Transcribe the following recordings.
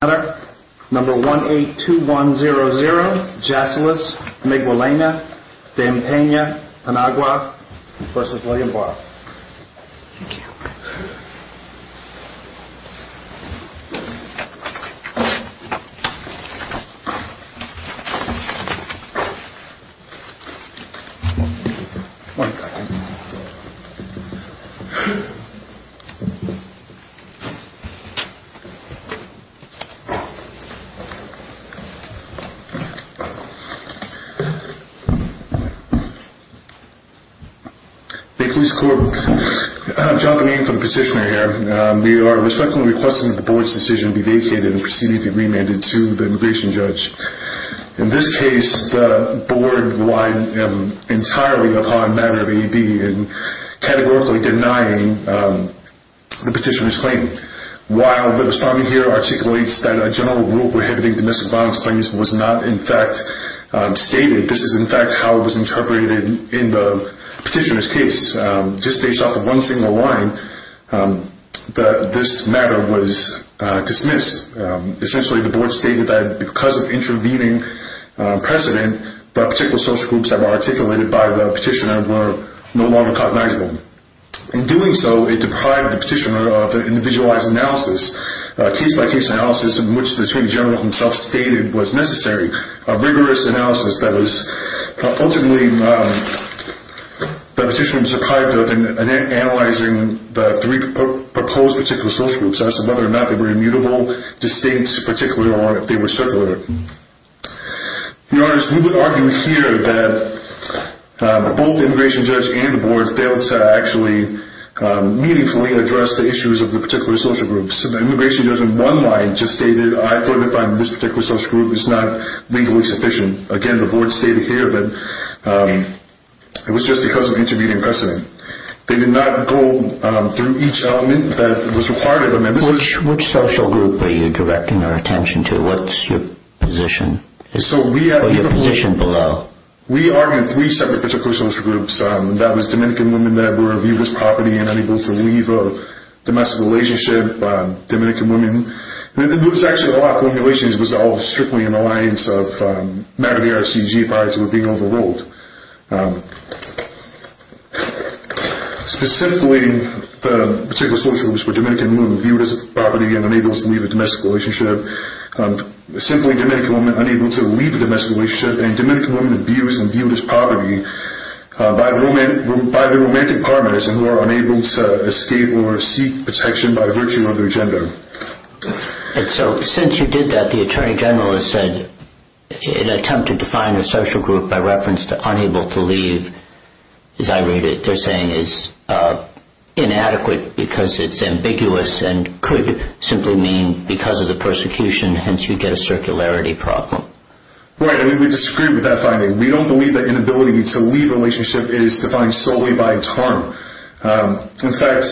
Number 182100, Jassilis, Miguelena, Dampena, Panagua, versus William Barr. Thank you. One second. We are respectfully requesting that the board's decision be vacated and proceeded to be remanded to the immigration judge. In this case, the board relied entirely upon a matter of AEB and categorically denying the petitioner's claim. While the respondent here articulates that a general rule prohibiting domestic violence claims was not in fact stated, this is in fact how it was interpreted in the petitioner's case. Just based off of one single line, this matter was dismissed. Essentially, the board stated that because of intervening precedent, the particular social groups that were articulated by the petitioner were no longer cognizable. In doing so, it deprived the petitioner of an individualized analysis, a case-by-case analysis in which the attorney general himself stated was necessary, a rigorous analysis that was ultimately deprived of in analyzing the three proposed particular social groups as to whether or not they were immutable, distinct, particular, or if they were circular. We would argue here that both the immigration judge and the board failed to actually meaningfully address the issues of the particular social groups. The immigration judge, in one line, just stated, I further find that this particular social group is not legally sufficient. Again, the board stated here that it was just because of intervening precedent. They did not go through each element that was required of them. Which social group are you directing our attention to? What's your position? We argued three separate particular social groups. That was Dominican women that were viewed as property and unable to leave a domestic relationship, Dominican women. There was actually a lot of formulation. It was all strictly an alliance of matter-of-the-art CGPIs that were being overruled. Specifically, the particular social groups were Dominican women viewed as property and unable to leave a domestic relationship, simply Dominican women unable to leave a domestic relationship, and Dominican women abused and viewed as property by their romantic partners and who are unable to escape or seek protection by virtue of their gender. Since you did that, the attorney general has said an attempt to define a social group by reference to unable to leave, as I read it, they're saying is inadequate because it's ambiguous and could simply mean because of the persecution, hence you get a circularity problem. Right, and we disagree with that finding. We don't believe that inability to leave a relationship is defined solely by its harm. In fact,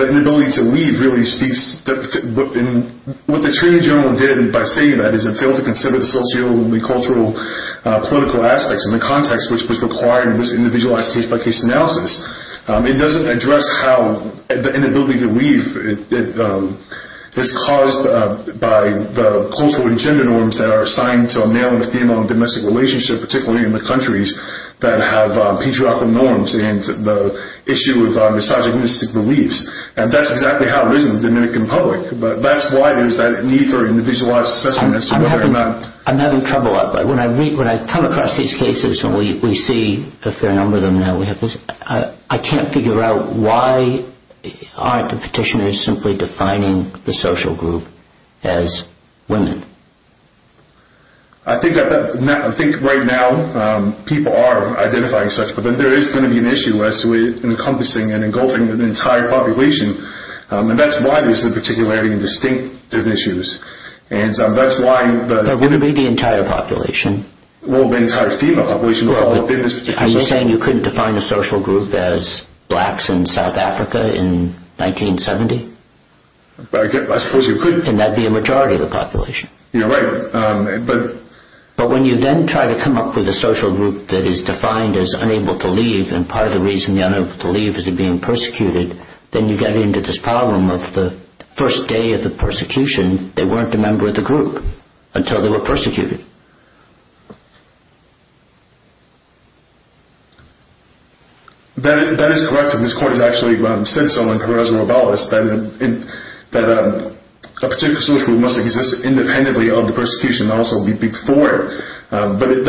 the inability to leave really speaks, and what the attorney general did by saying that is it failed to consider the socio-cultural, political aspects and the context which was required in this individualized case-by-case analysis. It doesn't address how the inability to leave is caused by the cultural and gender norms that are assigned to a male and a female in a domestic relationship, particularly in the countries that have patriarchal norms and the issue of misogynistic beliefs. And that's exactly how it is in the Dominican public. But that's why there's that need for individualized assessment as to whether or not... I'm having trouble. When I come across these cases, and we see a fair number of them now, I can't figure out why aren't the petitioners simply defining the social group as women. I think right now people are identifying such, but there is going to be an issue as to encompassing and engulfing the entire population, and that's why there's a particularity in distinctive issues. And that's why... It wouldn't be the entire population. Well, the entire female population. Are you saying you couldn't define a social group as blacks in South Africa in 1970? I suppose you could. And that would be a majority of the population. Yeah, right. But when you then try to come up with a social group that is defined as unable to leave, and part of the reason they're unable to leave is they're being persecuted, then you get into this problem of the first day of the persecution, they weren't a member of the group until they were persecuted. That is correct. And this court has actually said so in Carreras and Robales that a particular social group must exist independently of the persecution, and also be before it. But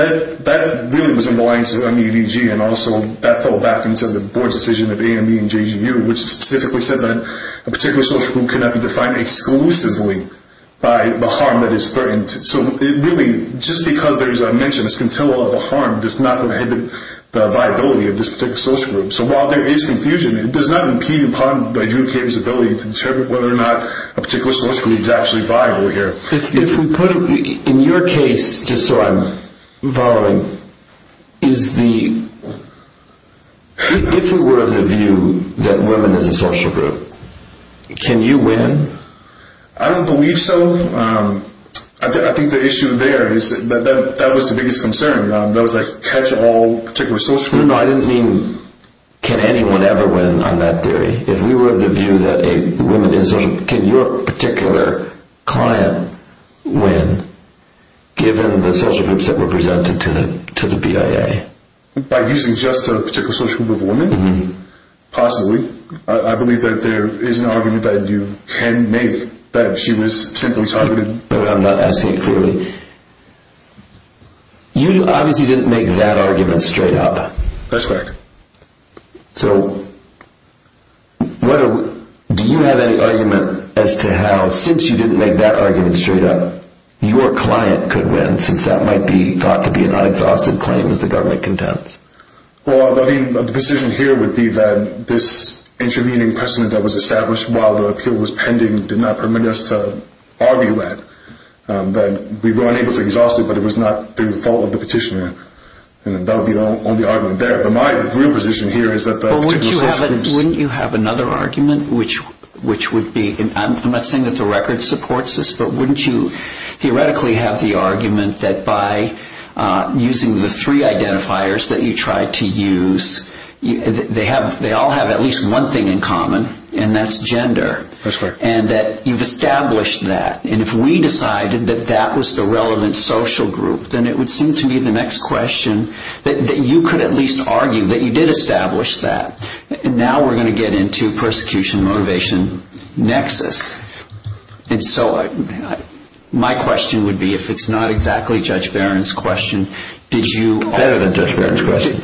that really was in reliance on MEVG, and also that fell back into the board's decision of AME and JGU, which specifically said that a particular social group cannot be defined exclusively by the harm that is threatened. So really, just because there's a mention, a scintilla of a harm, does not prohibit the viability of this particular social group. So while there is confusion, it does not impede, in part, by Drew Cabe's ability to determine whether or not a particular social group is actually viable here. In your case, just so I'm following, if we were of the view that women is a social group, can you win? I don't believe so. I think the issue there is that that was the biggest concern. That was like, catch all particular social groups. No, I didn't mean can anyone ever win on that theory. If we were of the view that women is a social group, can your particular client win, given the social groups that were presented to the BIA? By using just a particular social group of women? Possibly. I believe that there is an argument that you can make that she was simply targeted. But I'm not asking it clearly. You obviously didn't make that argument straight up. That's correct. So do you have any argument as to how, since you didn't make that argument straight up, your client could win, since that might be thought to be an unexhausted claim, as the government contends? Well, the position here would be that this intervening precedent that was established while the appeal was pending did not permit us to argue that. We were unable to exhaust it, but it was not through the fault of the petitioner. That would be the only argument there. But my real position here is that the particular social groups— Wouldn't you have another argument, which would be—I'm not saying that the record supports this, but wouldn't you theoretically have the argument that by using the three identifiers that you tried to use, they all have at least one thing in common, and that's gender. That's correct. And that you've established that. And if we decided that that was the relevant social group, then it would seem to me the next question, that you could at least argue that you did establish that. And now we're going to get into persecution-motivation nexus. And so my question would be, if it's not exactly Judge Barron's question, did you— Better than Judge Barron's question.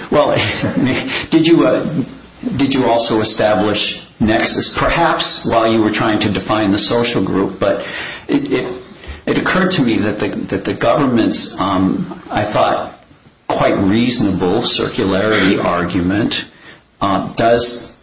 Did you also establish nexus? Perhaps while you were trying to define the social group, but it occurred to me that the government's, I thought, quite reasonable circularity argument does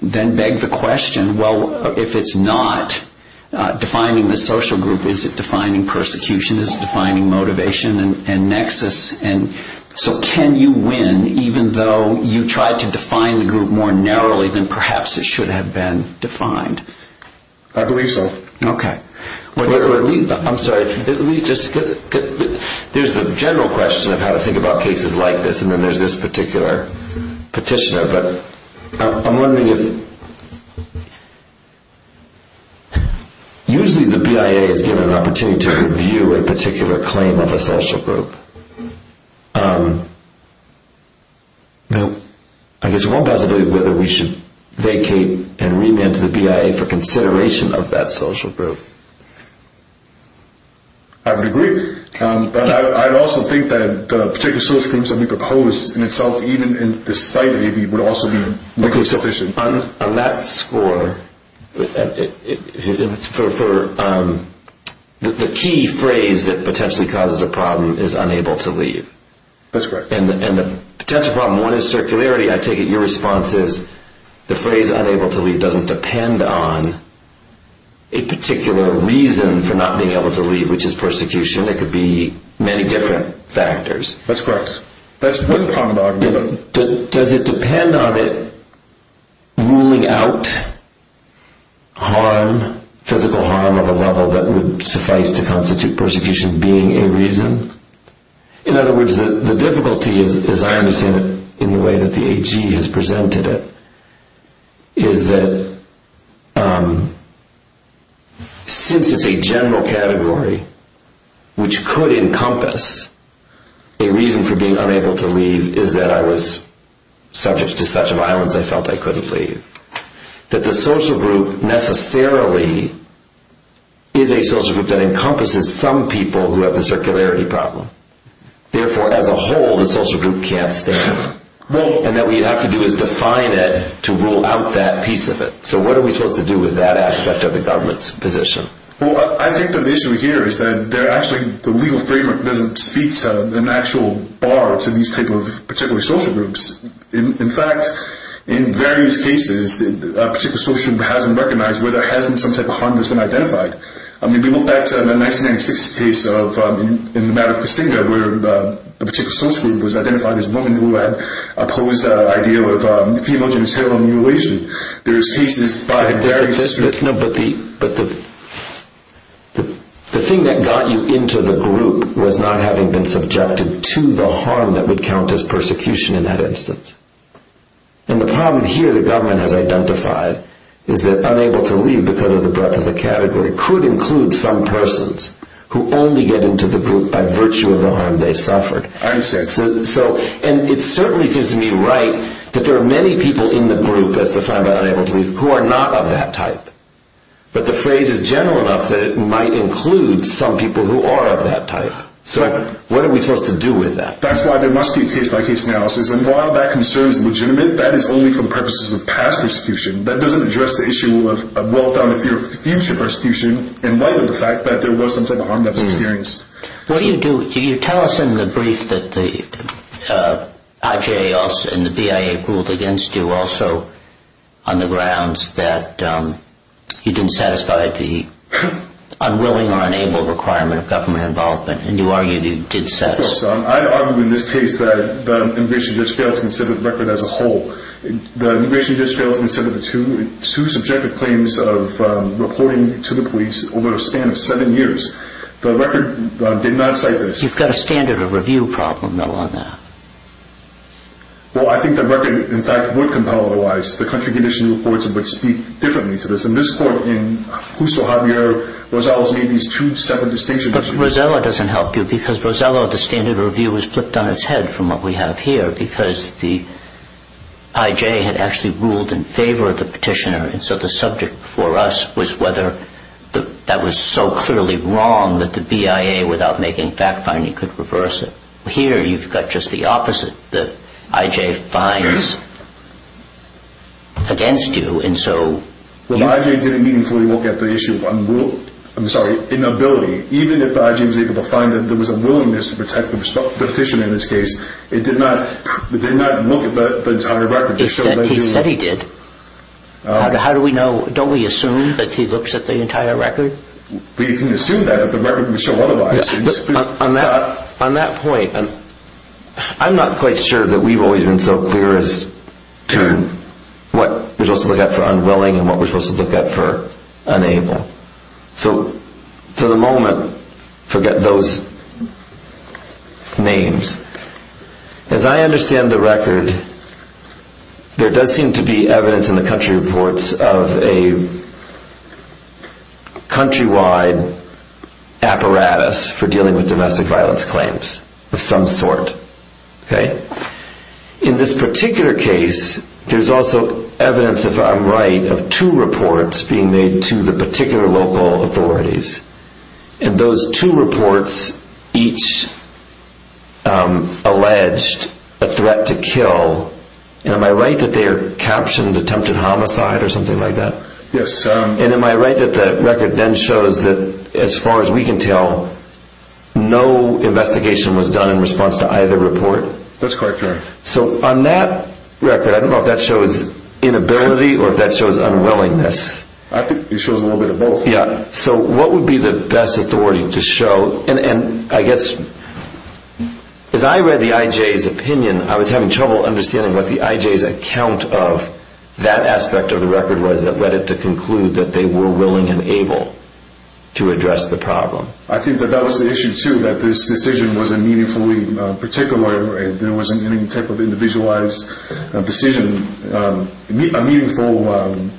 then beg the question, well, if it's not defining the social group, is it defining persecution? Is it defining motivation and nexus? And so can you win even though you tried to define the group more narrowly than perhaps it should have been defined? I believe so. Okay. I'm sorry, let me just— There's the general question of how to think about cases like this, and then there's this particular petitioner, but I'm wondering if— Usually the BIA is given an opportunity to review a particular claim of a social group. I guess there's one possibility of whether we should vacate and remand to the BIA for consideration of that social group. I would agree. But I'd also think that a particular social group, something proposed in itself, even in this fight, maybe, would also be sufficiently— On that score, the key phrase that potentially causes a problem is unable to leave. That's correct. And the potential problem, one, is circularity. I take it your response is the phrase unable to leave doesn't depend on a particular reason for not being able to leave, which is persecution. It could be many different factors. That's correct. That's one problem I've given. Does it depend on it ruling out physical harm of a level that would suffice to constitute persecution being a reason? In other words, the difficulty, as I understand it, in the way that the AG has presented it, is that since it's a general category, which could encompass a reason for being unable to leave, is that I was subject to such violence I felt I couldn't leave. That the social group necessarily is a social group that encompasses some people who have the circularity problem. Therefore, as a whole, the social group can't stand. And what we have to do is define it to rule out that piece of it. So what are we supposed to do with that aspect of the government's position? Well, I think that the issue here is that the legal framework doesn't speak to an actual bar to these types of particular social groups. In fact, in various cases, a particular social group hasn't recognized where there has been some type of harm that's been identified. I mean, we look back to the 1996 case in the matter of Kasinga, where a particular social group was identified as a woman who had opposed the idea of female genital mutilation. But the thing that got you into the group was not having been subjected to the harm that would count as persecution in that instance. And the problem here the government has identified is that unable to leave because of the breadth of the category could include some persons who only get into the group by virtue of the harm they suffered. I understand. And it certainly seems to me right that there are many people in the group that's defined by unable to leave who are not of that type. But the phrase is general enough that it might include some people who are of that type. So what are we supposed to do with that? That's why there must be a case-by-case analysis. And while that concern is legitimate, that is only for the purposes of past persecution. That doesn't address the issue of well-founded future persecution in light of the fact that there was some type of harm that was experienced. What do you do? You tell us in the brief that the IJA and the BIA ruled against you also on the grounds that you didn't satisfy the unwilling or unable requirement of government involvement. And you argued you did satisfy. I argued in this case that the immigration judge failed to consider the record as a whole. The immigration judge failed to consider the two subjective claims of reporting to the police over a span of seven years. The record did not cite this. You've got a standard of review problem, though, on that. Well, I think the record, in fact, would compel otherwise. The country condition reports would speak differently to this. In this court, in Jusso-Hartmere, Rosella's made these two separate distinctions. But Rosella doesn't help you because Rosella, the standard of review was flipped on its head from what we have here because the IJA had actually ruled in favor of the petitioner. And so the subject for us was whether that was so clearly wrong that the BIA, without making fact-finding, could reverse it. Here, you've got just the opposite. The IJA finds against you, and so... Well, the IJA didn't meaningfully look at the issue of unwill... I'm sorry, inability. Even if the IJA was able to find that there was a willingness to protect the petitioner in this case, it did not look at the entire record. He said he did. How do we know? Don't we assume that he looks at the entire record? We can assume that, but the record would show otherwise. On that point, I'm not quite sure that we've always been so clear as to what we're supposed to look at for unwilling and what we're supposed to look at for unable. So, for the moment, forget those names. As I understand the record, there does seem to be evidence in the country reports of a countrywide apparatus for dealing with domestic violence claims of some sort. In this particular case, there's also evidence, if I'm right, of two reports being made to the particular local authorities. And those two reports each alleged a threat to kill. And am I right that they're captioned attempted homicide or something like that? Yes. And am I right that the record then shows that, as far as we can tell, no investigation was done in response to either report? That's quite correct. So, on that record, I don't know if that shows inability or if that shows unwillingness. I think it shows a little bit of both. Yeah. So, what would be the best authority to show? And, I guess, as I read the IJ's opinion, I was having trouble understanding what the IJ's account of that aspect of the record was that led it to conclude that they were willing and able to address the problem. I think that that was the issue, too, that this decision was a meaningfully particular. There wasn't any type of individualized decision, a meaningful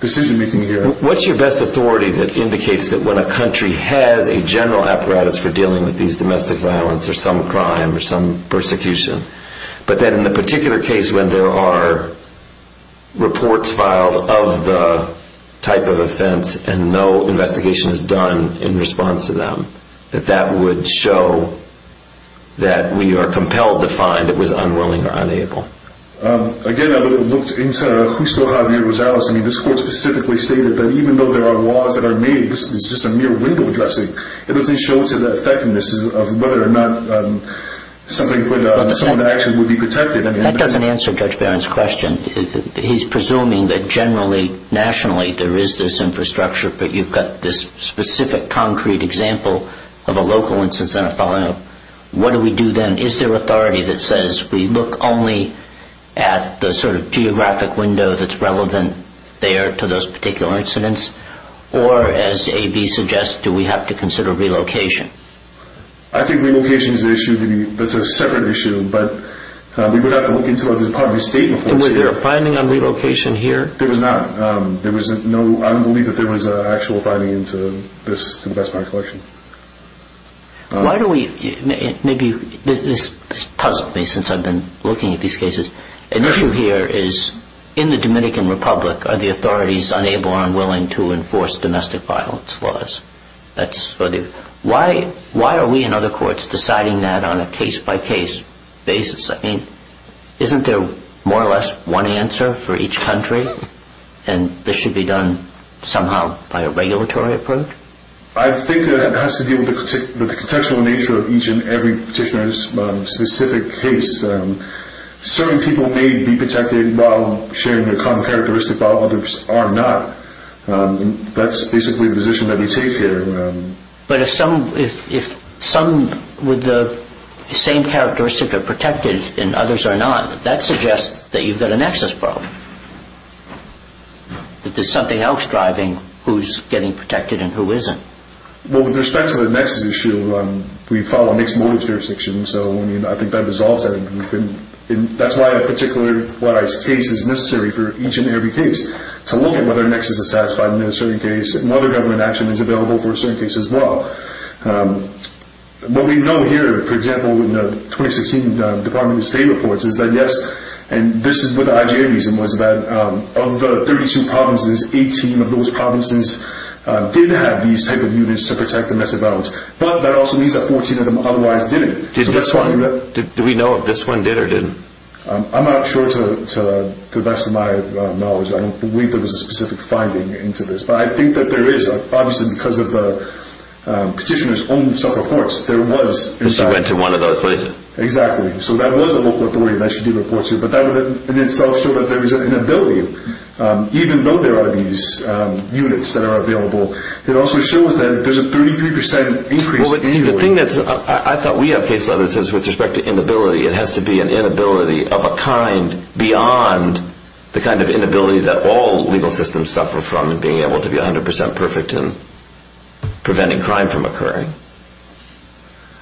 decision-making here. What's your best authority that indicates that when a country has a general apparatus for dealing with these domestic violence or some crime or some persecution, but then in the particular case when there are reports filed of the type of offense and no investigation is done in response to them, that that would show that we are compelled to find it was unwilling or unable? Again, I looked into Justo Javier Rosales. I mean, this court specifically stated that even though there are laws that are made, this is just a mere window dressing. It doesn't show to the effectiveness of whether or not something could, someone actually would be protected. That doesn't answer Judge Barron's question. He's presuming that generally, nationally, there is this infrastructure, but you've got this specific concrete example of a local instance in a filing. What do we do then? Is there authority that says we look only at the sort of geographic window that's relevant there to those particular incidents, or as A.B. suggests, do we have to consider relocation? I think relocation is an issue that's a separate issue, but we would have to look into the Department of State. And was there a finding on relocation here? There was not. There was no, I don't believe that there was an actual finding into this in the Best Buy collection. Why do we, maybe, this has puzzled me since I've been looking at these cases, an issue here is in the Dominican Republic are the authorities unable or unwilling to enforce domestic violence laws? Why are we in other courts deciding that on a case-by-case basis? I mean, isn't there more or less one answer for each country, and this should be done somehow by a regulatory approach? I think it has to do with the contextual nature of each and every petitioner's specific case. Certain people may be protected while sharing a common characteristic while others are not. That's basically the position that we take here. But if some with the same characteristic are protected and others are not, that suggests that you've got an access problem, that there's something else driving who's getting protected and who isn't. Well, with respect to the Nexus issue, we follow a mixed motive jurisdiction. So, I mean, I think that resolves that. That's why a particular White House case is necessary for each and every case, to look at whether Nexus is satisfied in a certain case, and whether government action is available for a certain case as well. What we know here, for example, in the 2016 Department of State reports, is that yes, and this is what the IGA reason was, that of the 32 provinces, 18 of those provinces did have these type of units to protect them as a balance. But that also means that 14 of them otherwise didn't. Do we know if this one did or didn't? I'm not sure to the best of my knowledge. I don't believe there was a specific finding into this. But I think that there is, obviously because of the petitioner's own self-reports. She went to one of those places. Exactly. So that was a local authority that she did report to. But that would in itself show that there is an inability, even though there are these units that are available. It also shows that there's a 33% increase annually. Well, let's see. The thing that's – I thought we have case letters that says with respect to inability, it has to be an inability of a kind beyond the kind of inability that all legal systems suffer from in being able to be 100% perfect in preventing crime from occurring.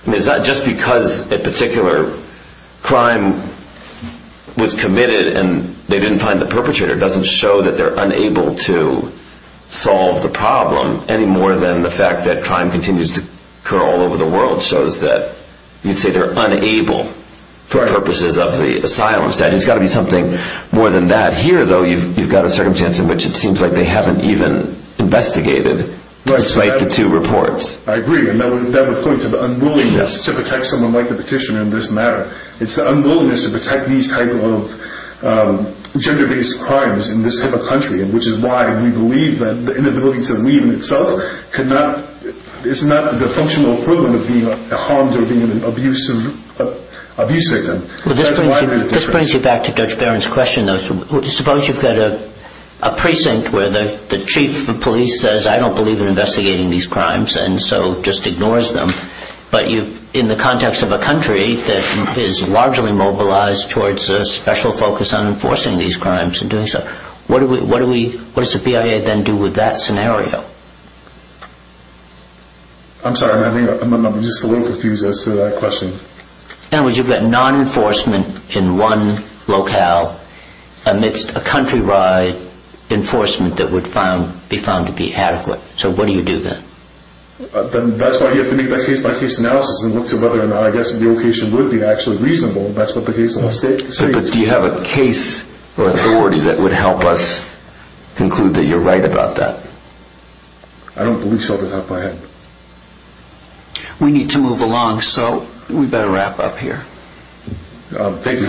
I mean, it's not just because a particular crime was committed and they didn't find the perpetrator. It doesn't show that they're unable to solve the problem any more than the fact that crime continues to occur all over the world shows that you'd say they're unable for purposes of the asylum statute. It's got to be something more than that. Here, though, you've got a circumstance in which it seems like they haven't even investigated despite the two reports. I agree, and that would point to the unwillingness to protect someone like the petitioner in this matter. It's the unwillingness to protect these type of gender-based crimes in this type of country, which is why we believe that the inability to leave in itself cannot – it's not the functional equivalent of being harmed or being an abuse victim. This brings me back to Judge Barron's question, though. Suppose you've got a precinct where the chief of police says, I don't believe in investigating these crimes, and so just ignores them. But in the context of a country that is largely mobilized towards a special focus on enforcing these crimes and doing so, what does the BIA then do with that scenario? I'm sorry, I'm just a little confused as to that question. In other words, you've got non-enforcement in one locale amidst a countrywide enforcement that would be found to be adequate. So what do you do then? That's why you have to make that case-by-case analysis and look to whether or not the location would be actually reasonable. That's what the case law states. But do you have a case or authority that would help us conclude that you're right about that? I don't believe so, but I'll try it. We need to move along, so we'd better wrap up here. Thank you.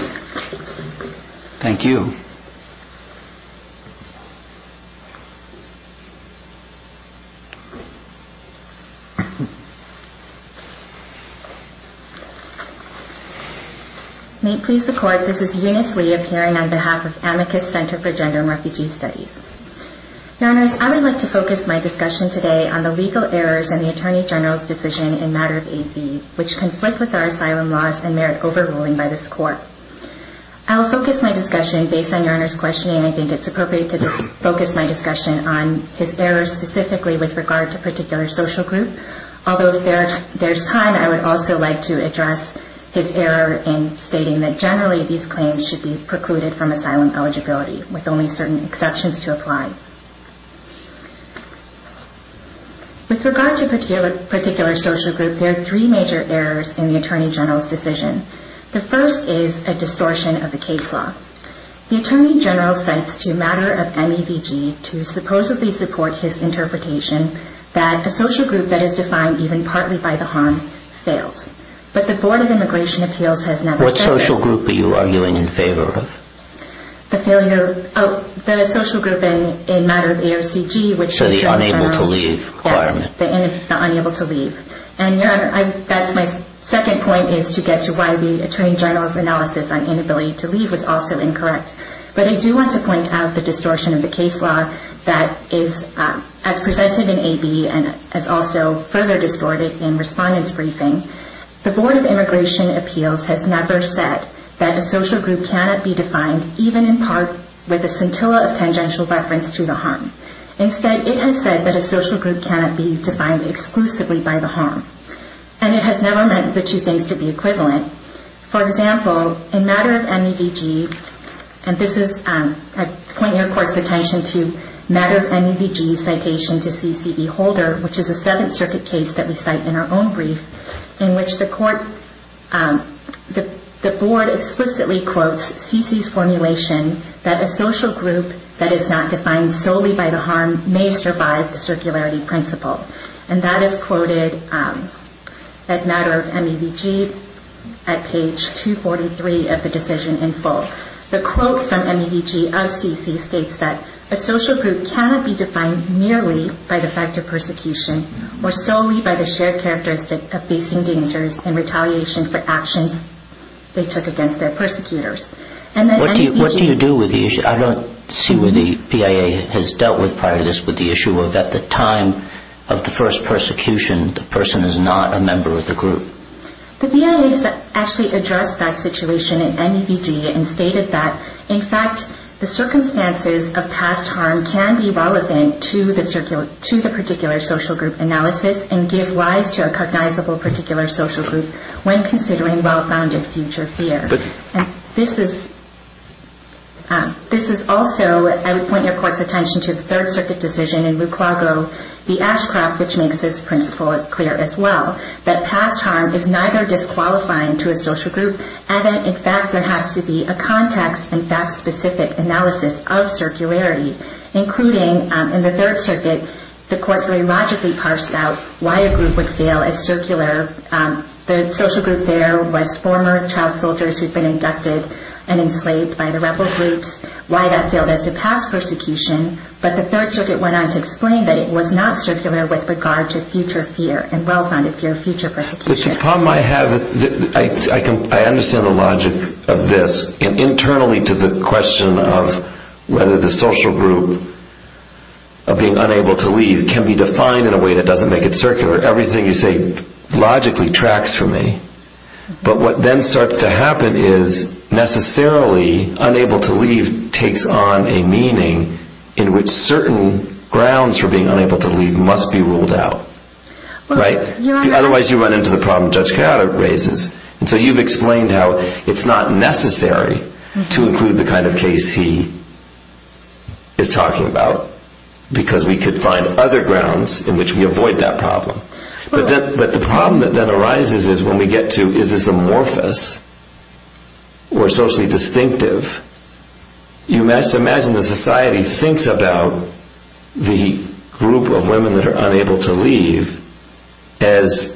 Thank you. May it please the Court, this is Eunice Lee, appearing on behalf of Amicus Center for Gender and Refugee Studies. Your Honors, I would like to focus my discussion today on the legal errors in the Attorney General's decision in matter of AB, which conflict with our asylum laws and merit overruling by this Court. I will focus my discussion, based on Your Honor's questioning, in the Attorney General's decision in matter of AB, and I will focus my discussion on his errors, specifically with regard to a particular social group. Although if there's time, I would also like to address his error in stating that generally these claims should be precluded from asylum eligibility, with only certain exceptions to apply. With regard to a particular social group, there are three major errors in the Attorney General's decision. The first is a distortion of the case law. The Attorney General cites to matter of MABG to supposedly support his interpretation that a social group that is defined even partly by the harm fails. But the Board of Immigration Appeals has never said this. What social group are you arguing in favor of? The failure of the social group in matter of AOCG, which is the Unable to Leave requirement. Yes, the Unable to Leave. And Your Honor, that's my second point, is to get to why the Attorney General's analysis on inability to leave was also incorrect. But I do want to point out the distortion of the case law that is as presented in AB and is also further distorted in Respondent's Briefing. The Board of Immigration Appeals has never said that a social group cannot be defined even in part with a scintilla of tangential reference to the harm. Instead, it has said that a social group cannot be defined exclusively by the harm. And it has never meant the two things to be equivalent. For example, in matter of MEVG, and this is, I point your court's attention to matter of MEVG's citation to CCB Holder, which is a Seventh Circuit case that we cite in our own brief, in which the court, the Board explicitly quotes CC's formulation that a social group that is not defined solely by the harm may survive the circularity principle. And that is quoted at matter of MEVG at page 243 of the decision in full. The quote from MEVG of CC states that a social group cannot be defined merely by the fact of persecution or solely by the shared characteristic of facing dangers and retaliation for actions they took against their persecutors. And that MEVG... What do you do with the issue? I don't see where the PIA has dealt with prior to this with the issue of at the time of the first persecution the person is not a member of the group. The PIA has actually addressed that situation in MEVG and stated that, in fact, the circumstances of past harm can be relevant to the particular social group analysis and give rise to a cognizable particular social group when considering well-founded future fear. And this is also, I would point your court's attention to the Third Circuit decision in Luquago v. Ashcraft which makes this principle clear as well, that past harm is neither disqualifying to a social group and that, in fact, there has to be a context and fact-specific analysis of circularity including, in the Third Circuit, the court very logically parsed out why a group would fail as circular. The social group there was former child soldiers who'd been inducted and enslaved by the rebel groups, why that failed as a past persecution, but the Third Circuit went on to explain that it was not circular with regard to future fear and well-founded fear of future persecution. I understand the logic of this internally to the question of whether the social group of being unable to leave can be defined in a way that doesn't make it circular. Everything you say logically tracks for me. But what then starts to happen is, necessarily, unable to leave takes on a meaning in which certain grounds for being unable to leave must be ruled out. Right? Otherwise you run into the problem Judge Gallagher raises. And so you've explained how it's not necessary to include the kind of case he is talking about because we could find other grounds in which we avoid that problem. But the problem that then arises is, when we get to, is this amorphous or socially distinctive, you must imagine the society thinks about the group of women that are unable to leave as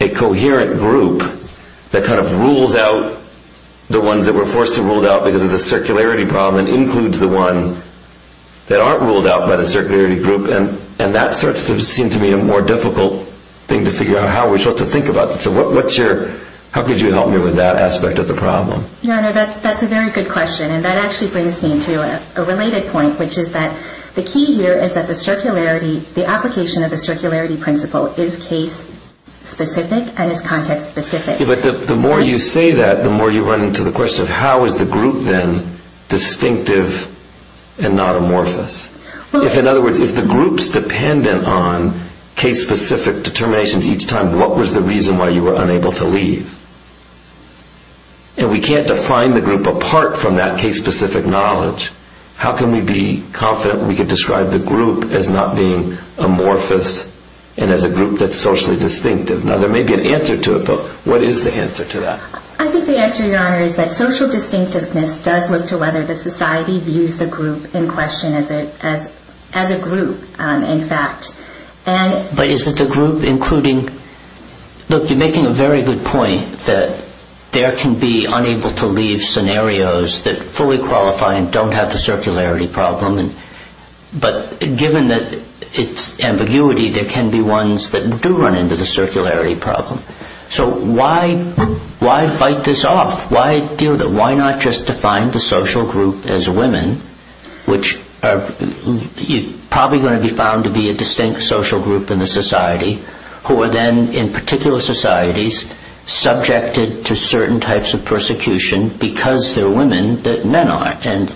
a coherent group that kind of rules out the ones that were forced to rule out because of the circularity problem and includes the one that aren't ruled out by the circularity group. And that starts to seem to me a more difficult thing to figure out how we're supposed to think about. So how could you help me with that aspect of the problem? That's a very good question. And that actually brings me to a related point, which is that the key here is that the circularity, the application of the circularity principle is case-specific and is context-specific. But the more you say that, the more you run into the question of how is the group then distinctive and not amorphous? In other words, if the group's dependent on case-specific determinations each time, what was the reason why you were unable to leave? And we can't define the group apart from that case-specific knowledge. How can we be confident we can describe the group as not being amorphous and as a group that's socially distinctive? Now, there may be an answer to it, but what is the answer to that? I think the answer, Your Honor, is that social distinctiveness does look to whether the society views the group in question as a group, in fact. But isn't the group including... Look, you're making a very good point that there can be unable-to-leave scenarios that fully qualify and don't have the circularity problem. But given its ambiguity, there can be ones that do run into the circularity problem. So why bite this off? Why deal with it? Why not just define the social group as women, which are probably going to be found to be a distinct social group in the society, who are then, in particular societies, subjected to certain types of persecution because they're women that men are. And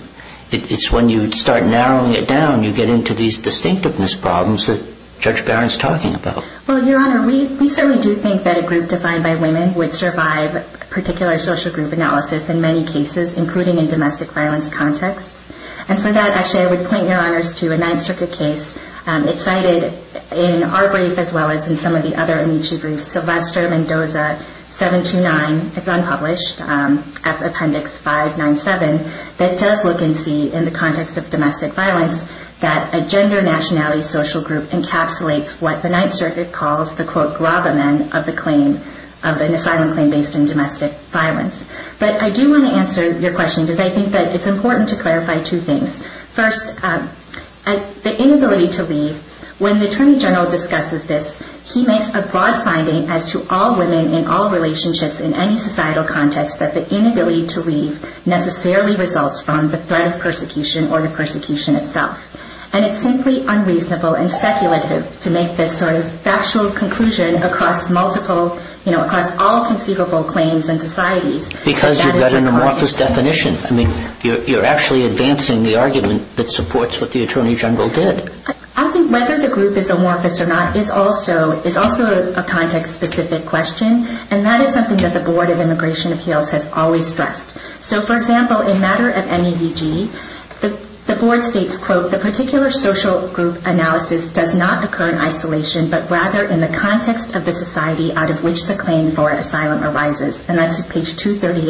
it's when you start narrowing it down you get into these distinctiveness problems that Judge Barron's talking about. Well, Your Honor, we certainly do think that a group defined by women would survive particular social group analysis in many cases, including in domestic violence contexts. And for that, actually, I would point Your Honors to a Ninth Circuit case. It's cited in our brief as well as in some of the other Amici briefs. Sylvester Mendoza 729. It's unpublished. Appendix 597. That does look and see, in the context of domestic violence, that a gender nationality social group encapsulates what the Ninth Circuit calls the, quote, gravamen of an asylum claim based in domestic violence. But I do want to answer your question because I think that it's important to clarify two things. First, the inability to leave. When the Attorney General discusses this, he makes a broad finding as to all women in all relationships in any societal context that the inability to leave necessarily results from the threat of persecution or the persecution itself. And it's simply unreasonable and speculative to make this sort of factual conclusion across multiple, you know, across all conceivable claims in society. Because you've got an amorphous definition. I mean, you're actually advancing the argument that supports what the Attorney General did. I think whether the group is amorphous or not is also a context-specific question. And that is something that the Board of Immigration Appeals has always stressed. So, for example, in matter of MEVG, the Board states, quote, the particular social group analysis does not occur in isolation, but rather in the context of the society out of which the claim for asylum arises. And that's page 238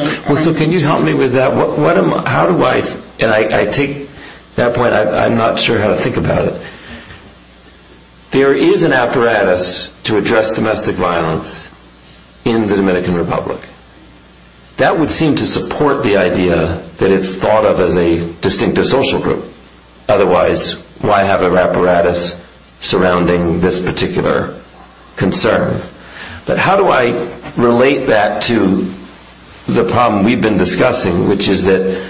of MEVG. Well, so can you help me with that? How do I... And I take that point. I'm not sure how to think about it. There is an apparatus to address domestic violence in the Dominican Republic. That would seem to support the idea that it's thought of as a distinctive social group. Otherwise, why have an apparatus surrounding this particular concern? But how do I relate that to the problem we've been discussing, which is that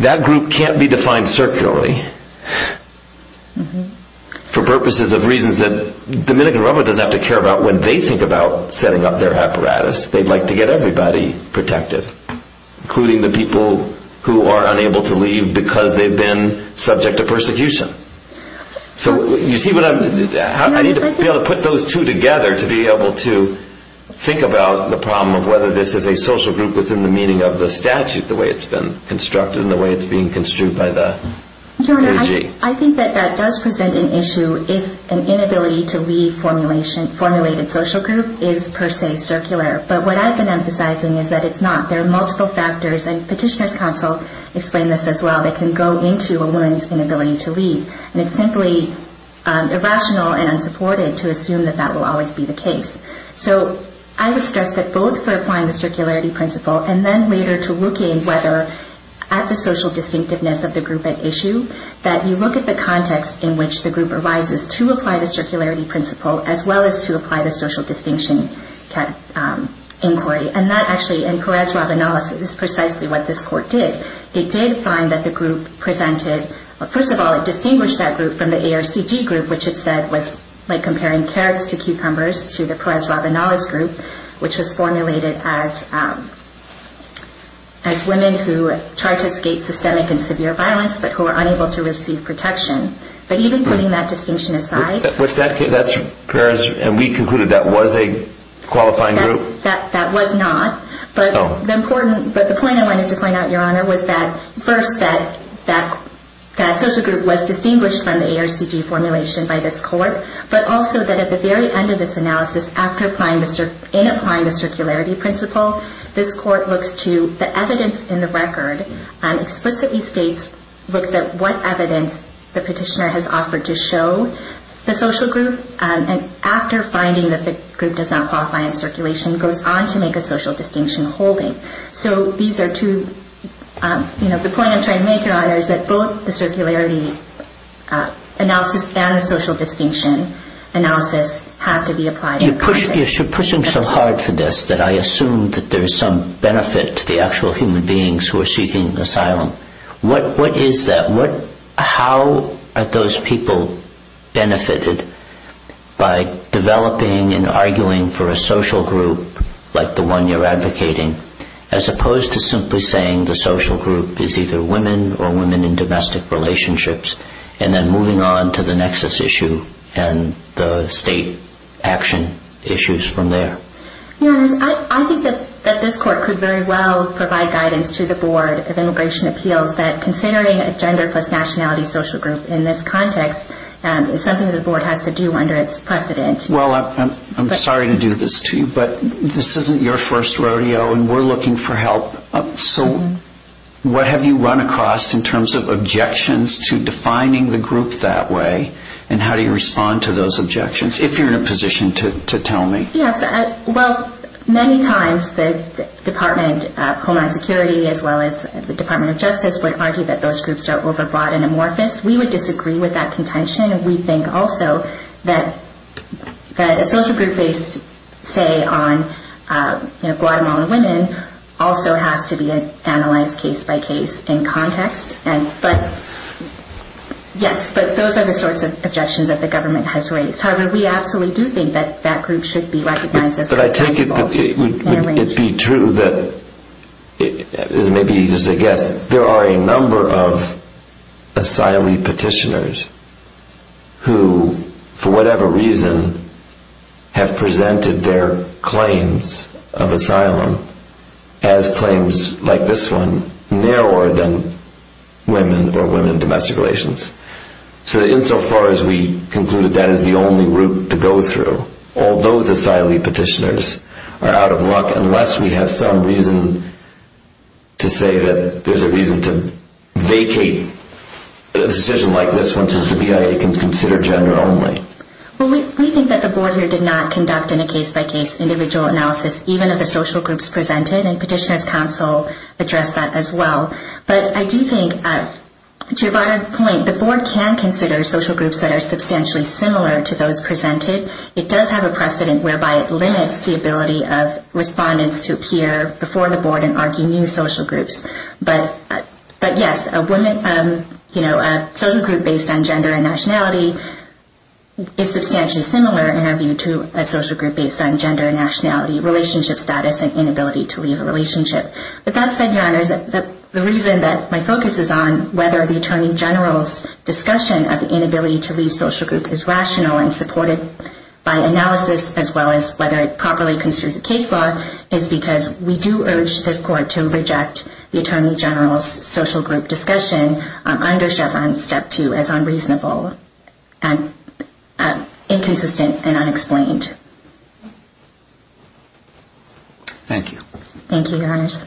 that group can't be defined circularly. For purposes of reasons that the Dominican Republic doesn't have to care about. When they think about setting up their apparatus, they'd like to get everybody protected, including the people who are unable to leave because they've been subject to persecution. So you see what I'm... I need to be able to put those two together to be able to think about the problem of whether this is a social group within the meaning of the statute, the way it's been constructed and the way it's being construed by the AG. I think that that does present an issue if an inability to leave formulated social group is per se circular. But what I've been emphasizing is that it's not. There are multiple factors, and Petitioner's Counsel explained this as well, that can go into a woman's inability to leave. And it's simply irrational and unsupported to assume that that will always be the case. So I would stress that both for applying the circularity principle and then later to looking whether at the social distinctiveness of the group at issue, that you look at the context in which the group arises to apply the circularity principle as well as to apply the social distinction inquiry. And that actually, in Perez-Rabanales, is precisely what this court did. It did find that the group presented... First of all, it distinguished that group from the ARCG group, which it said was like comparing carrots to cucumbers to the Perez-Rabanales group, which was formulated as... But who are unable to receive protection. But even putting that distinction aside... Was that... That's Perez... And we concluded that was a qualifying group? That was not. But the point I wanted to point out, Your Honor, was that, first, that social group was distinguished from the ARCG formulation by this court, but also that at the very end of this analysis, in applying the circularity principle, this court looks to the evidence in the record and explicitly states... Looks at what evidence the petitioner has offered to show the social group. And after finding that the group does not qualify in circulation, goes on to make a social distinction holding. So these are two... The point I'm trying to make, Your Honor, is that both the circularity analysis and the social distinction analysis have to be applied in... You're pushing so hard for this that I assume that there's some benefit to the actual human beings who are seeking asylum. What is that? How are those people benefited by developing and arguing for a social group like the one you're advocating, as opposed to simply saying the social group is either women or women in domestic relationships, and then moving on to the nexus issue and the state action issues from there? Your Honor, I think that this court could very well provide guidance to the Board of Immigration Appeals that considering a gender plus nationality social group in this context is something the Board has to do under its precedent. Well, I'm sorry to do this to you, but this isn't your first rodeo, and we're looking for help. So what have you run across in terms of objections to defining the group that way, and how do you respond to those objections, if you're in a position to tell me? Yes, well, many times the Department of Homeland Security as well as the Department of Justice would argue that those groups are overbroad and amorphous. We would disagree with that contention. We think also that a social group based, say, on Guatemalan women also has to be analyzed case by case in context. But yes, those are the sorts of objections that the government has raised. However, we absolutely do think that that group should be recognized as customizable. But I take it that it would be true that maybe just a guess, there are a number of asylee petitioners who, for whatever reason, have presented their claims of asylum as claims like this one, narrower than women or women in domestic relations. So insofar as we concluded that is the only route to go through, all those asylee petitioners are out of luck unless we have some reason to say that there's a reason to vacate a decision like this one so the BIA can consider gender only. Well, we think that the Board here did not conduct in a case-by-case individual analysis, even of the social groups presented, and Petitioner's Council addressed that as well. But I do think, to your broader point, the Board can consider social groups that are substantially similar to those presented. It does have a precedent whereby it limits the ability of respondents to appear before the Board and argue new social groups. But yes, a social group based on gender and nationality is substantially similar in our view to a social group based on gender and nationality, relationship status, and inability to leave a relationship. With that said, Your Honors, the reason that my focus is on whether the Attorney General's discussion of the inability to leave social group is rational and supported by analysis, as well as whether it properly constitutes a case law, is because we do urge this Court to reject the Attorney General's social group discussion under Chevron Step 2 as unreasonable, inconsistent, and unexplained. Thank you. Thank you, Your Honors.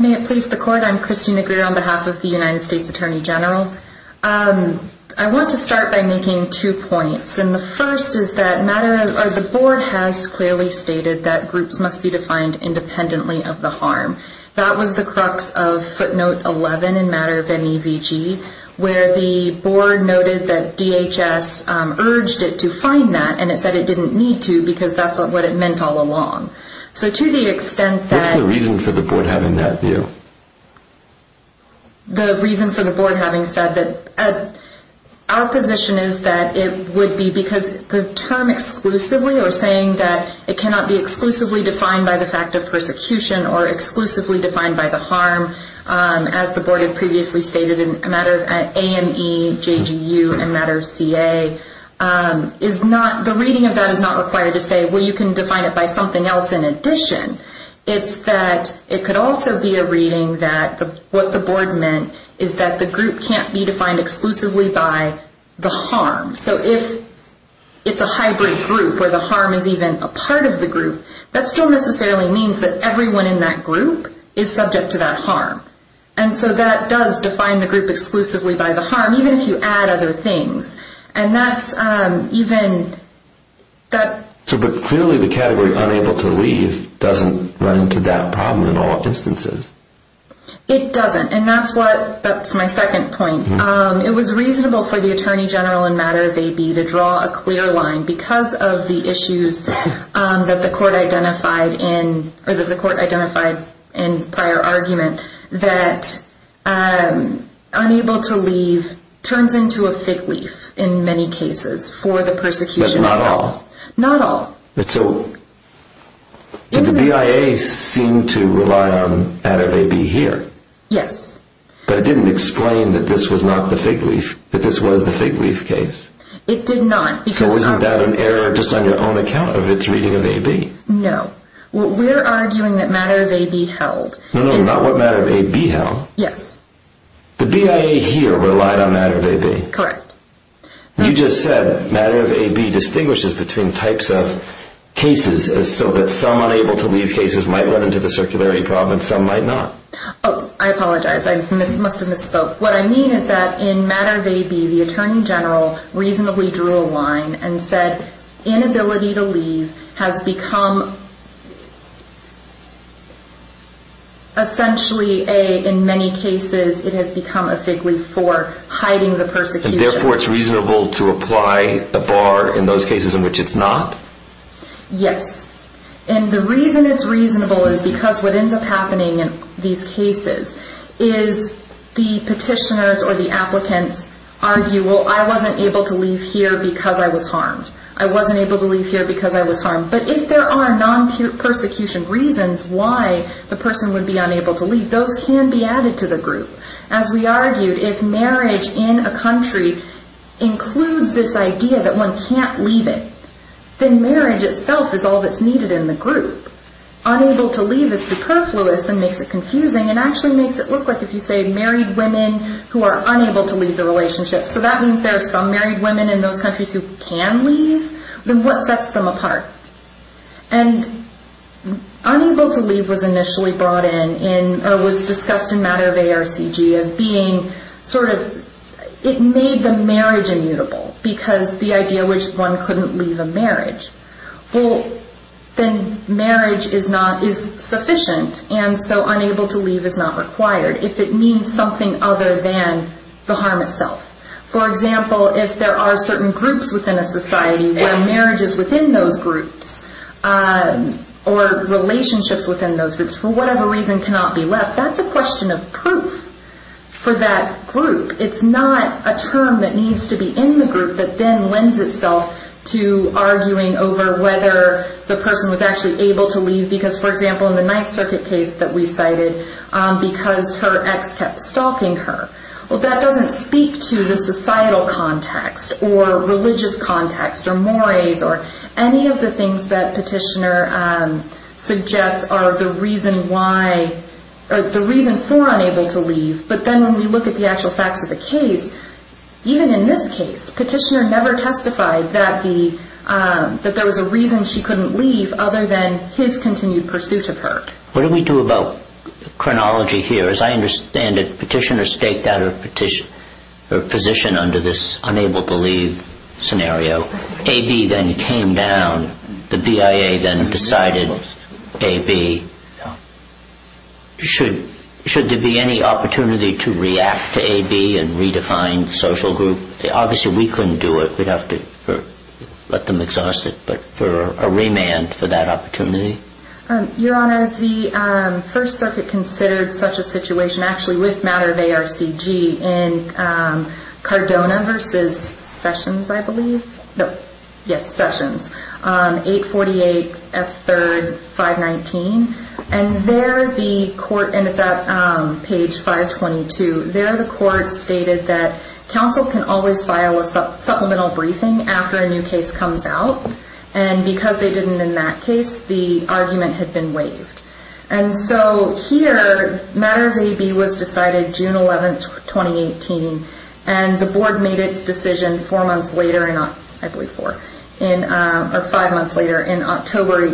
May it please the Court. I'm Kristina Greer on behalf of the United States Attorney General. I want to start by making two points. And the first is that the Board has clearly stated that groups must be defined independently of the harm. That was the crux of footnote 11 in matter of NEVG, where the Board noted that DHS urged it to find that and it said it didn't need to because that's what it meant all along. So to the extent that... What's the reason for the Board having that view? The reason for the Board having said that... Our position is that it would be because the term exclusively or saying that it cannot be exclusively defined by the fact of persecution or exclusively defined by the harm, as the Board had previously stated in matter of AME, JGU, and matter of CA, the reading of that is not required to say, well, you can define it by something else in addition. It's that it could also be a reading that what the Board meant is that the group can't be defined exclusively by the harm. So if it's a hybrid group where the harm is even a part of the group, that still necessarily means that everyone in that group is subject to that harm. And so that does define the group exclusively by the harm, even if you add other things. And that's even... But clearly the category unable to leave doesn't run into that problem in all instances. It doesn't, and that's my second point. It was reasonable for the Attorney General in matter of AB to draw a clear line because of the issues that the Court identified in prior argument that unable to leave turns into a fig leaf in many cases for the persecution itself. But not all. Not all. So the BIA seemed to rely on matter of AB here. Yes. But it didn't explain that this was not the fig leaf, that this was the fig leaf case. It did not. So isn't that an error just on your own account of its reading of AB? No. What we're arguing that matter of AB held is... No, no, not what matter of AB held. Yes. The BIA here relied on matter of AB. Correct. You just said matter of AB distinguishes between types of cases so that some unable to leave cases might run into the circularity problem and some might not. Oh, I apologize. I must have misspoke. What I mean is that in matter of AB, the Attorney General reasonably drew a line and said that inability to leave has become essentially, A, in many cases it has become a fig leaf for hiding the persecution. And therefore it's reasonable to apply a bar in those cases in which it's not? Yes. And the reason it's reasonable is because what ends up happening in these cases is the petitioners or the applicants argue, well, I wasn't able to leave here because I was harmed. I wasn't able to leave here because I was harmed. But if there are non-persecution reasons why the person would be unable to leave, those can be added to the group. As we argued, if marriage in a country includes this idea that one can't leave it, then marriage itself is all that's needed in the group. Unable to leave is superfluous and makes it confusing and actually makes it look like, if you say, married women who are unable to leave the relationship. So that means there are some married women in those countries who can leave. Then what sets them apart? And unable to leave was initially brought in or was discussed in matter of ARCG as being sort of, it made the marriage immutable because the idea which one couldn't leave a marriage. Well, then marriage is sufficient and so unable to leave is not required if it means something other than the harm itself. For example, if there are certain groups within a society where marriage is within those groups or relationships within those groups for whatever reason cannot be left, that's a question of proof for that group. It's not a term that needs to be in the group that then lends itself to arguing over whether the person was actually able to leave because, for example, in the Ninth Circuit case that we cited, because her ex kept stalking her. Well, that doesn't speak to the societal context or religious context or mores or any of the things that Petitioner suggests are the reason for unable to leave. But then when we look at the actual facts of the case, even in this case, Petitioner never testified that there was a reason she couldn't leave other than his continued pursuit of her. What do we do about chronology here? As I understand it, Petitioner staked out her position under this unable to leave scenario. AB then came down. The BIA then decided AB should there be any opportunity to react to AB and redefine the social group. Obviously, we couldn't do it. We'd have to let them exhaust it, but for a remand for that opportunity. Your Honor, the First Circuit considered such a situation, actually with matter of ARCG, in Cardona v. Sessions, I believe. Yes, Sessions. 848F3, 519. And there the court, and it's at page 522, there the court stated that counsel can always file a supplemental briefing after a new case comes out. And because they didn't in that case, the argument had been waived. And so here, matter of AB was decided June 11, 2018, and the board made its decision four months later, I believe four, or five months later on October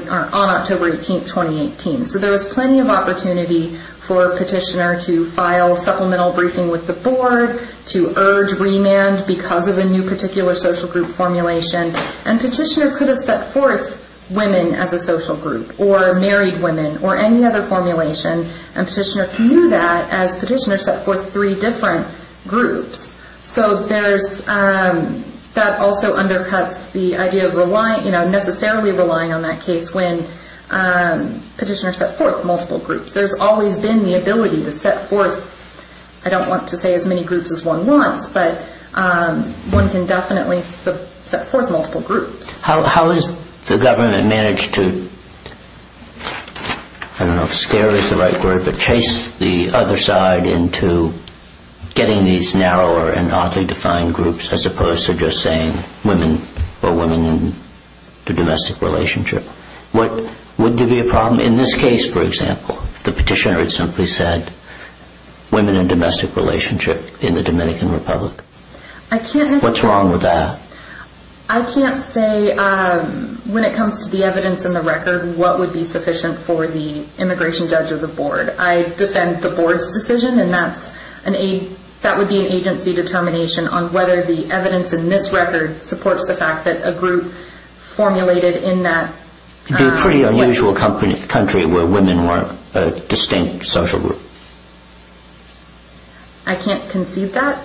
18, 2018. So there was plenty of opportunity for Petitioner to file supplemental briefing with the board, to urge remand because of a new particular social group formulation, and Petitioner could have set forth women as a social group, or married women, or any other formulation, and Petitioner could do that as Petitioner set forth three different groups. So that also undercuts the idea of necessarily relying on that case when Petitioner set forth multiple groups. There's always been the ability to set forth, I don't want to say as many groups as one wants, but one can definitely set forth multiple groups. How has the government managed to, I don't know if scare is the right word, but chase the other side into getting these narrower and oddly defined groups, as opposed to just saying women or women in a domestic relationship? Would there be a problem in this case, for example, if the Petitioner had simply said women in a domestic relationship in the Dominican Republic? What's wrong with that? I can't say, when it comes to the evidence in the record, what would be sufficient for the immigration judge or the board. I defend the board's decision, and that would be an agency determination on whether the evidence in this record supports the fact that a group formulated in that... It would be a pretty unusual country where women weren't a distinct social group. I can't concede that.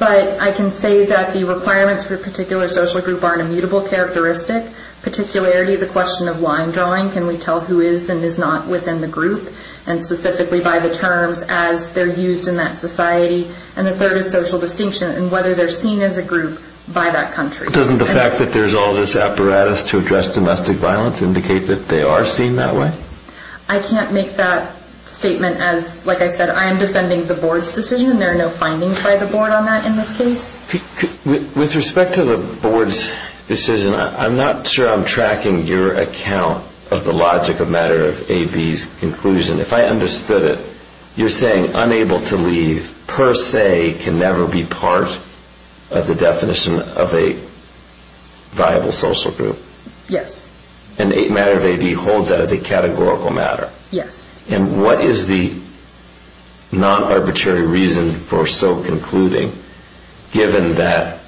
But I can say that the requirements for a particular social group are an immutable characteristic. Particularity is a question of line drawing. Can we tell who is and is not within the group, and specifically by the terms, as they're used in that society? And the third is social distinction and whether they're seen as a group by that country. Doesn't the fact that there's all this apparatus to address domestic violence indicate that they are seen that way? I can't make that statement as, like I said, I am defending the board's decision, and there are no findings by the board on that in this case. With respect to the board's decision, I'm not sure I'm tracking your account of the logic of matter of AB's conclusion. If I understood it, you're saying unable to leave, per se, can never be part of the definition of a viable social group. Yes. And matter of AB holds that as a categorical matter. Yes. And what is the non-arbitrary reason for so concluding, given that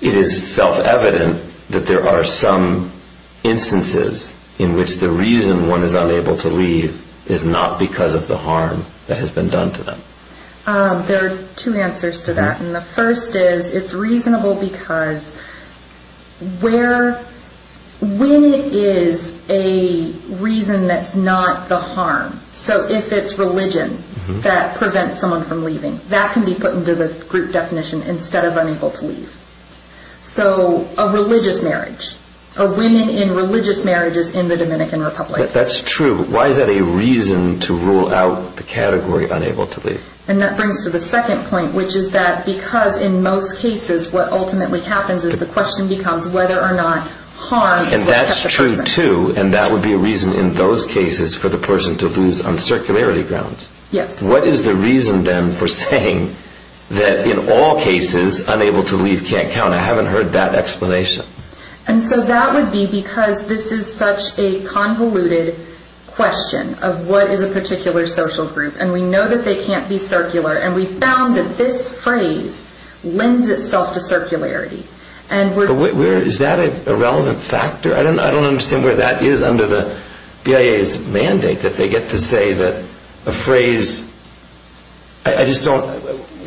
it is self-evident that there are some instances in which the reason one is unable to leave is not because of the harm that has been done to them? There are two answers to that. And the first is it's reasonable because when it is a reason that's not the harm, so if it's religion that prevents someone from leaving, that can be put into the group definition instead of unable to leave. So a religious marriage, a winning in religious marriages in the Dominican Republic. That's true. Why is that a reason to rule out the category unable to leave? And that brings to the second point, which is that because in most cases what ultimately happens is the question becomes whether or not harm is what kept the person. And that's true, too, and that would be a reason in those cases for the person to lose on circularity grounds. Yes. What is the reason, then, for saying that in all cases, unable to leave can't count? I haven't heard that explanation. And so that would be because this is such a convoluted question of what is a particular social group, and we know that they can't be circular, and we found that this phrase lends itself to circularity. Is that a relevant factor? I don't understand where that is under the BIA's mandate that they get to say that a phrase... I just don't...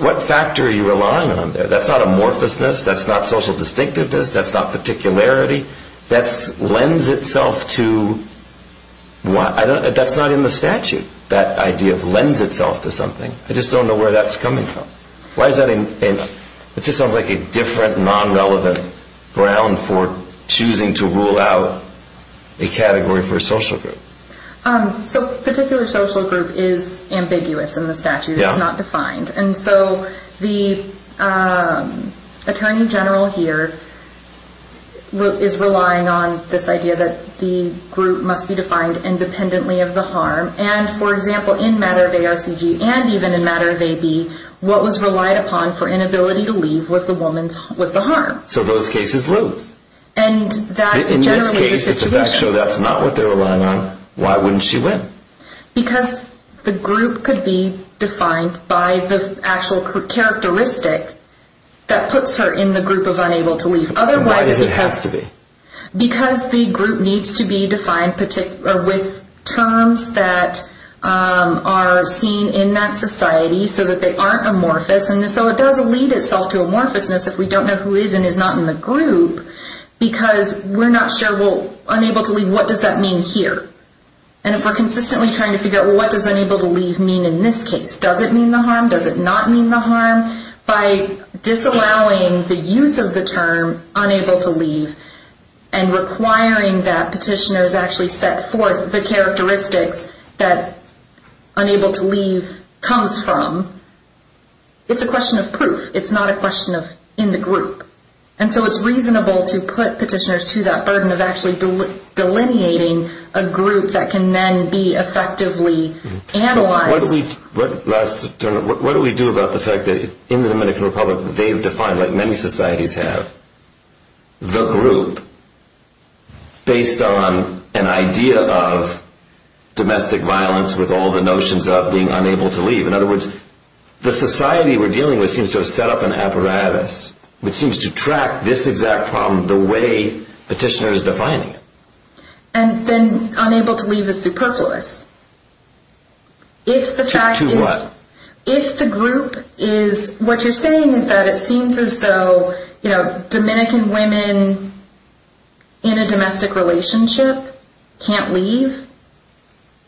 What factor are you relying on there? That's not amorphousness. That's not social distinctiveness. That's not particularity. That lends itself to... That's not in the statute, that idea of lends itself to something. I just don't know where that's coming from. Why is that... It just sounds like a different, non-relevant ground for choosing to rule out a category for a social group. So particular social group is ambiguous in the statute. It's not defined. And so the attorney general here is relying on this idea that the group must be defined independently of the harm. And, for example, in matter of ARCG and even in matter of AB, what was relied upon for inability to leave was the harm. So those cases lose. In this case, if the facts show that's not what they're relying on, why wouldn't she win? Because the group could be defined by the actual characteristic that puts her in the group of unable to leave. Why does it have to be? Because the group needs to be defined with terms that are seen in that society so that they aren't amorphous. And so it does lead itself to amorphousness if we don't know who is and is not in the group because we're not sure, well, unable to leave, what does that mean here? And if we're consistently trying to figure out, well, what does unable to leave mean in this case? Does it mean the harm? Does it not mean the harm? By disallowing the use of the term unable to leave and requiring that petitioners actually set forth the characteristics that unable to leave comes from, it's a question of proof. It's not a question of in the group. And so it's reasonable to put petitioners to that burden of actually delineating a group that can then be effectively analyzed. What do we do about the fact that in the Dominican Republic they've defined, like many societies have, the group based on an idea of domestic violence with all the notions of being unable to leave. In other words, the society we're dealing with seems to have set up an apparatus which seems to track this exact problem the way petitioners define it. And then unable to leave is superfluous. To what? If the group is, what you're saying is that it seems as though Dominican women in a domestic relationship can't leave?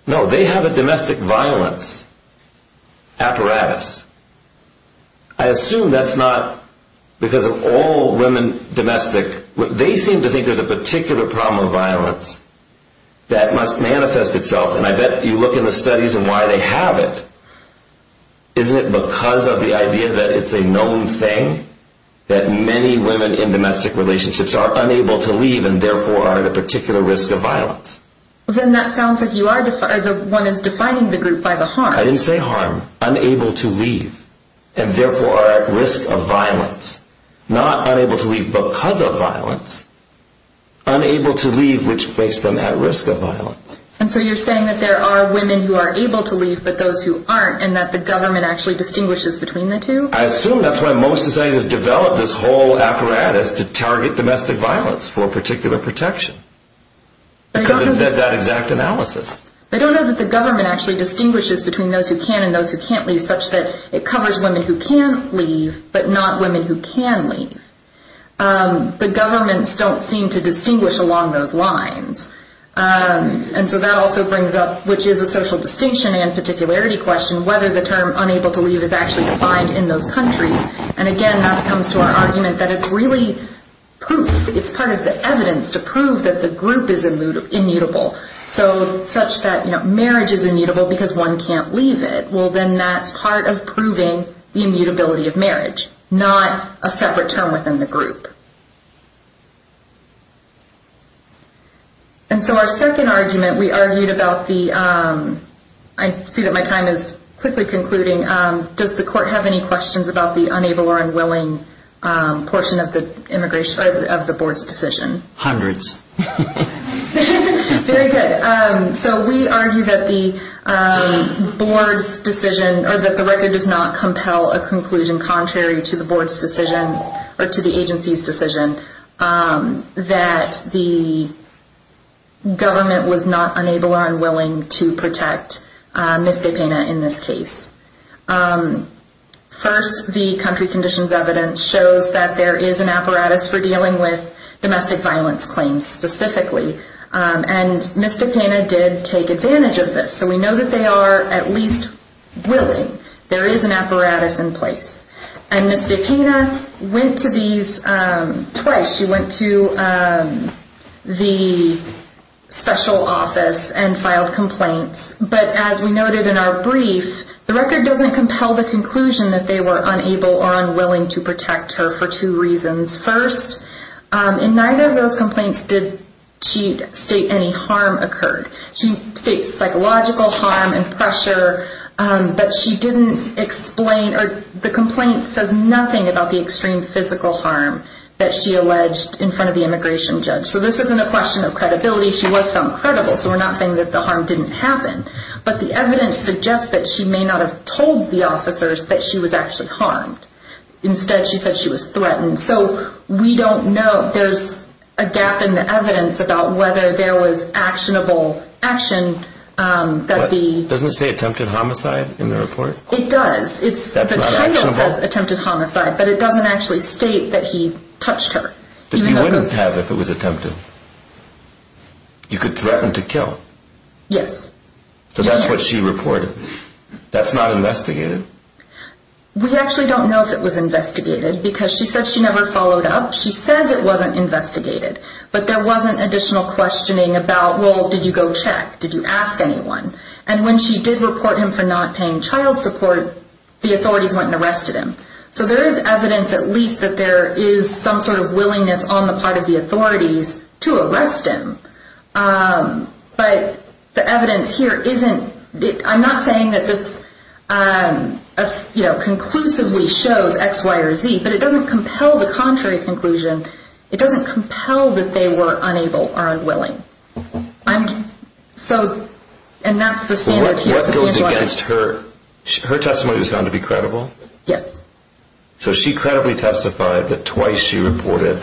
No, they have a domestic violence apparatus. I assume that's not because of all women domestic. They seem to think there's a particular problem of violence that must manifest itself, and I bet you look in the studies and why they have it. Isn't it because of the idea that it's a known thing that many women in domestic relationships are unable to leave and therefore are at a particular risk of violence? Then that sounds like one is defining the group by the harm. I didn't say harm. Unable to leave. And therefore are at risk of violence. Not unable to leave because of violence. Unable to leave which makes them at risk of violence. And so you're saying that there are women who are able to leave but those who aren't and that the government actually distinguishes between the two? I assume that's why most societies have developed this whole apparatus to target domestic violence for particular protection. Because it's that exact analysis. I don't know that the government actually distinguishes between those who can and those who can't leave such that it covers women who can leave but not women who can leave. The governments don't seem to distinguish along those lines. And so that also brings up, which is a social distinction and particularity question, whether the term unable to leave is actually defined in those countries. And again, that comes to our argument that it's really proof. It's part of the evidence to prove that the group is immutable. So such that marriage is immutable because one can't leave it. Well, then that's part of proving the immutability of marriage, not a separate term within the group. And so our second argument, we argued about the – I see that my time is quickly concluding. Does the court have any questions about the unable or unwilling portion of the board's decision? Hundreds. Very good. So we argue that the board's decision or that the record does not compel a conclusion contrary to the board's decision or to the agency's decision that the government was not unable or unwilling to protect Ms. Gepena in this case. First, the country conditions evidence shows that there is an apparatus for dealing with domestic violence claims specifically. And Ms. Gepena did take advantage of this. So we know that they are at least willing. There is an apparatus in place. And Ms. Gepena went to these twice. She went to the special office and filed complaints. But as we noted in our brief, the record doesn't compel the conclusion that they were unable or unwilling to protect her for two reasons. First, in neither of those complaints did she state any harm occurred. She states psychological harm and pressure, but she didn't explain or the complaint says nothing about the extreme physical harm that she alleged in front of the immigration judge. So this isn't a question of credibility. She was found credible, so we're not saying that the harm didn't happen. But the evidence suggests that she may not have told the officers that she was actually harmed. Instead, she said she was threatened. So we don't know. There's a gap in the evidence about whether there was actionable action. Doesn't it say attempted homicide in the report? It does. The title says attempted homicide, but it doesn't actually state that he touched her. But you wouldn't have if it was attempted. You could threaten to kill. Yes. So that's what she reported. That's not investigated. We actually don't know if it was investigated because she said she never followed up. She says it wasn't investigated, but there wasn't additional questioning about, well, did you go check? Did you ask anyone? And when she did report him for not paying child support, the authorities went and arrested him. So there is evidence at least that there is some sort of willingness on the part of the authorities to arrest him. But the evidence here isn't. I'm not saying that this conclusively shows X, Y, or Z, but it doesn't compel the contrary conclusion. It doesn't compel that they were unable or unwilling. And that's the standard here. What goes against her? Her testimony was found to be credible? Yes. So she credibly testified that twice she reported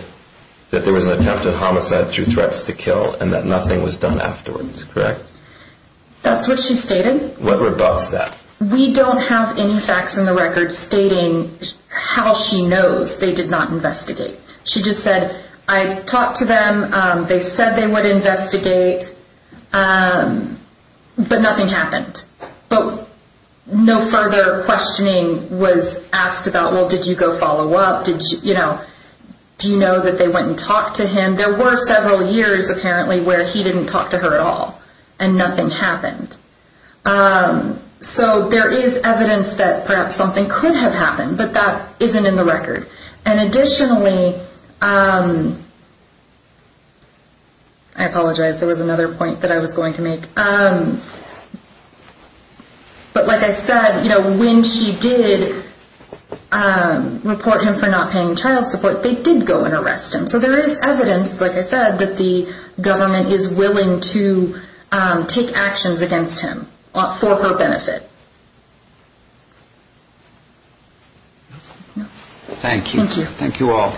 that there was an attempt at homicide through threats to kill and that nothing was done afterwards, correct? That's what she stated. What rebuffs that? We don't have any facts in the record stating how she knows they did not investigate. She just said, I talked to them. They said they would investigate, but nothing happened. But no further questioning was asked about, well, did you go follow up? Do you know that they went and talked to him? There were several years apparently where he didn't talk to her at all and nothing happened. So there is evidence that perhaps something could have happened, but that isn't in the record. And additionally, I apologize. There was another point that I was going to make. But like I said, when she did report him for not paying child support, they did go and arrest him. So there is evidence, like I said, that the government is willing to take actions against him for her benefit. Thank you. Thank you. Thank you all.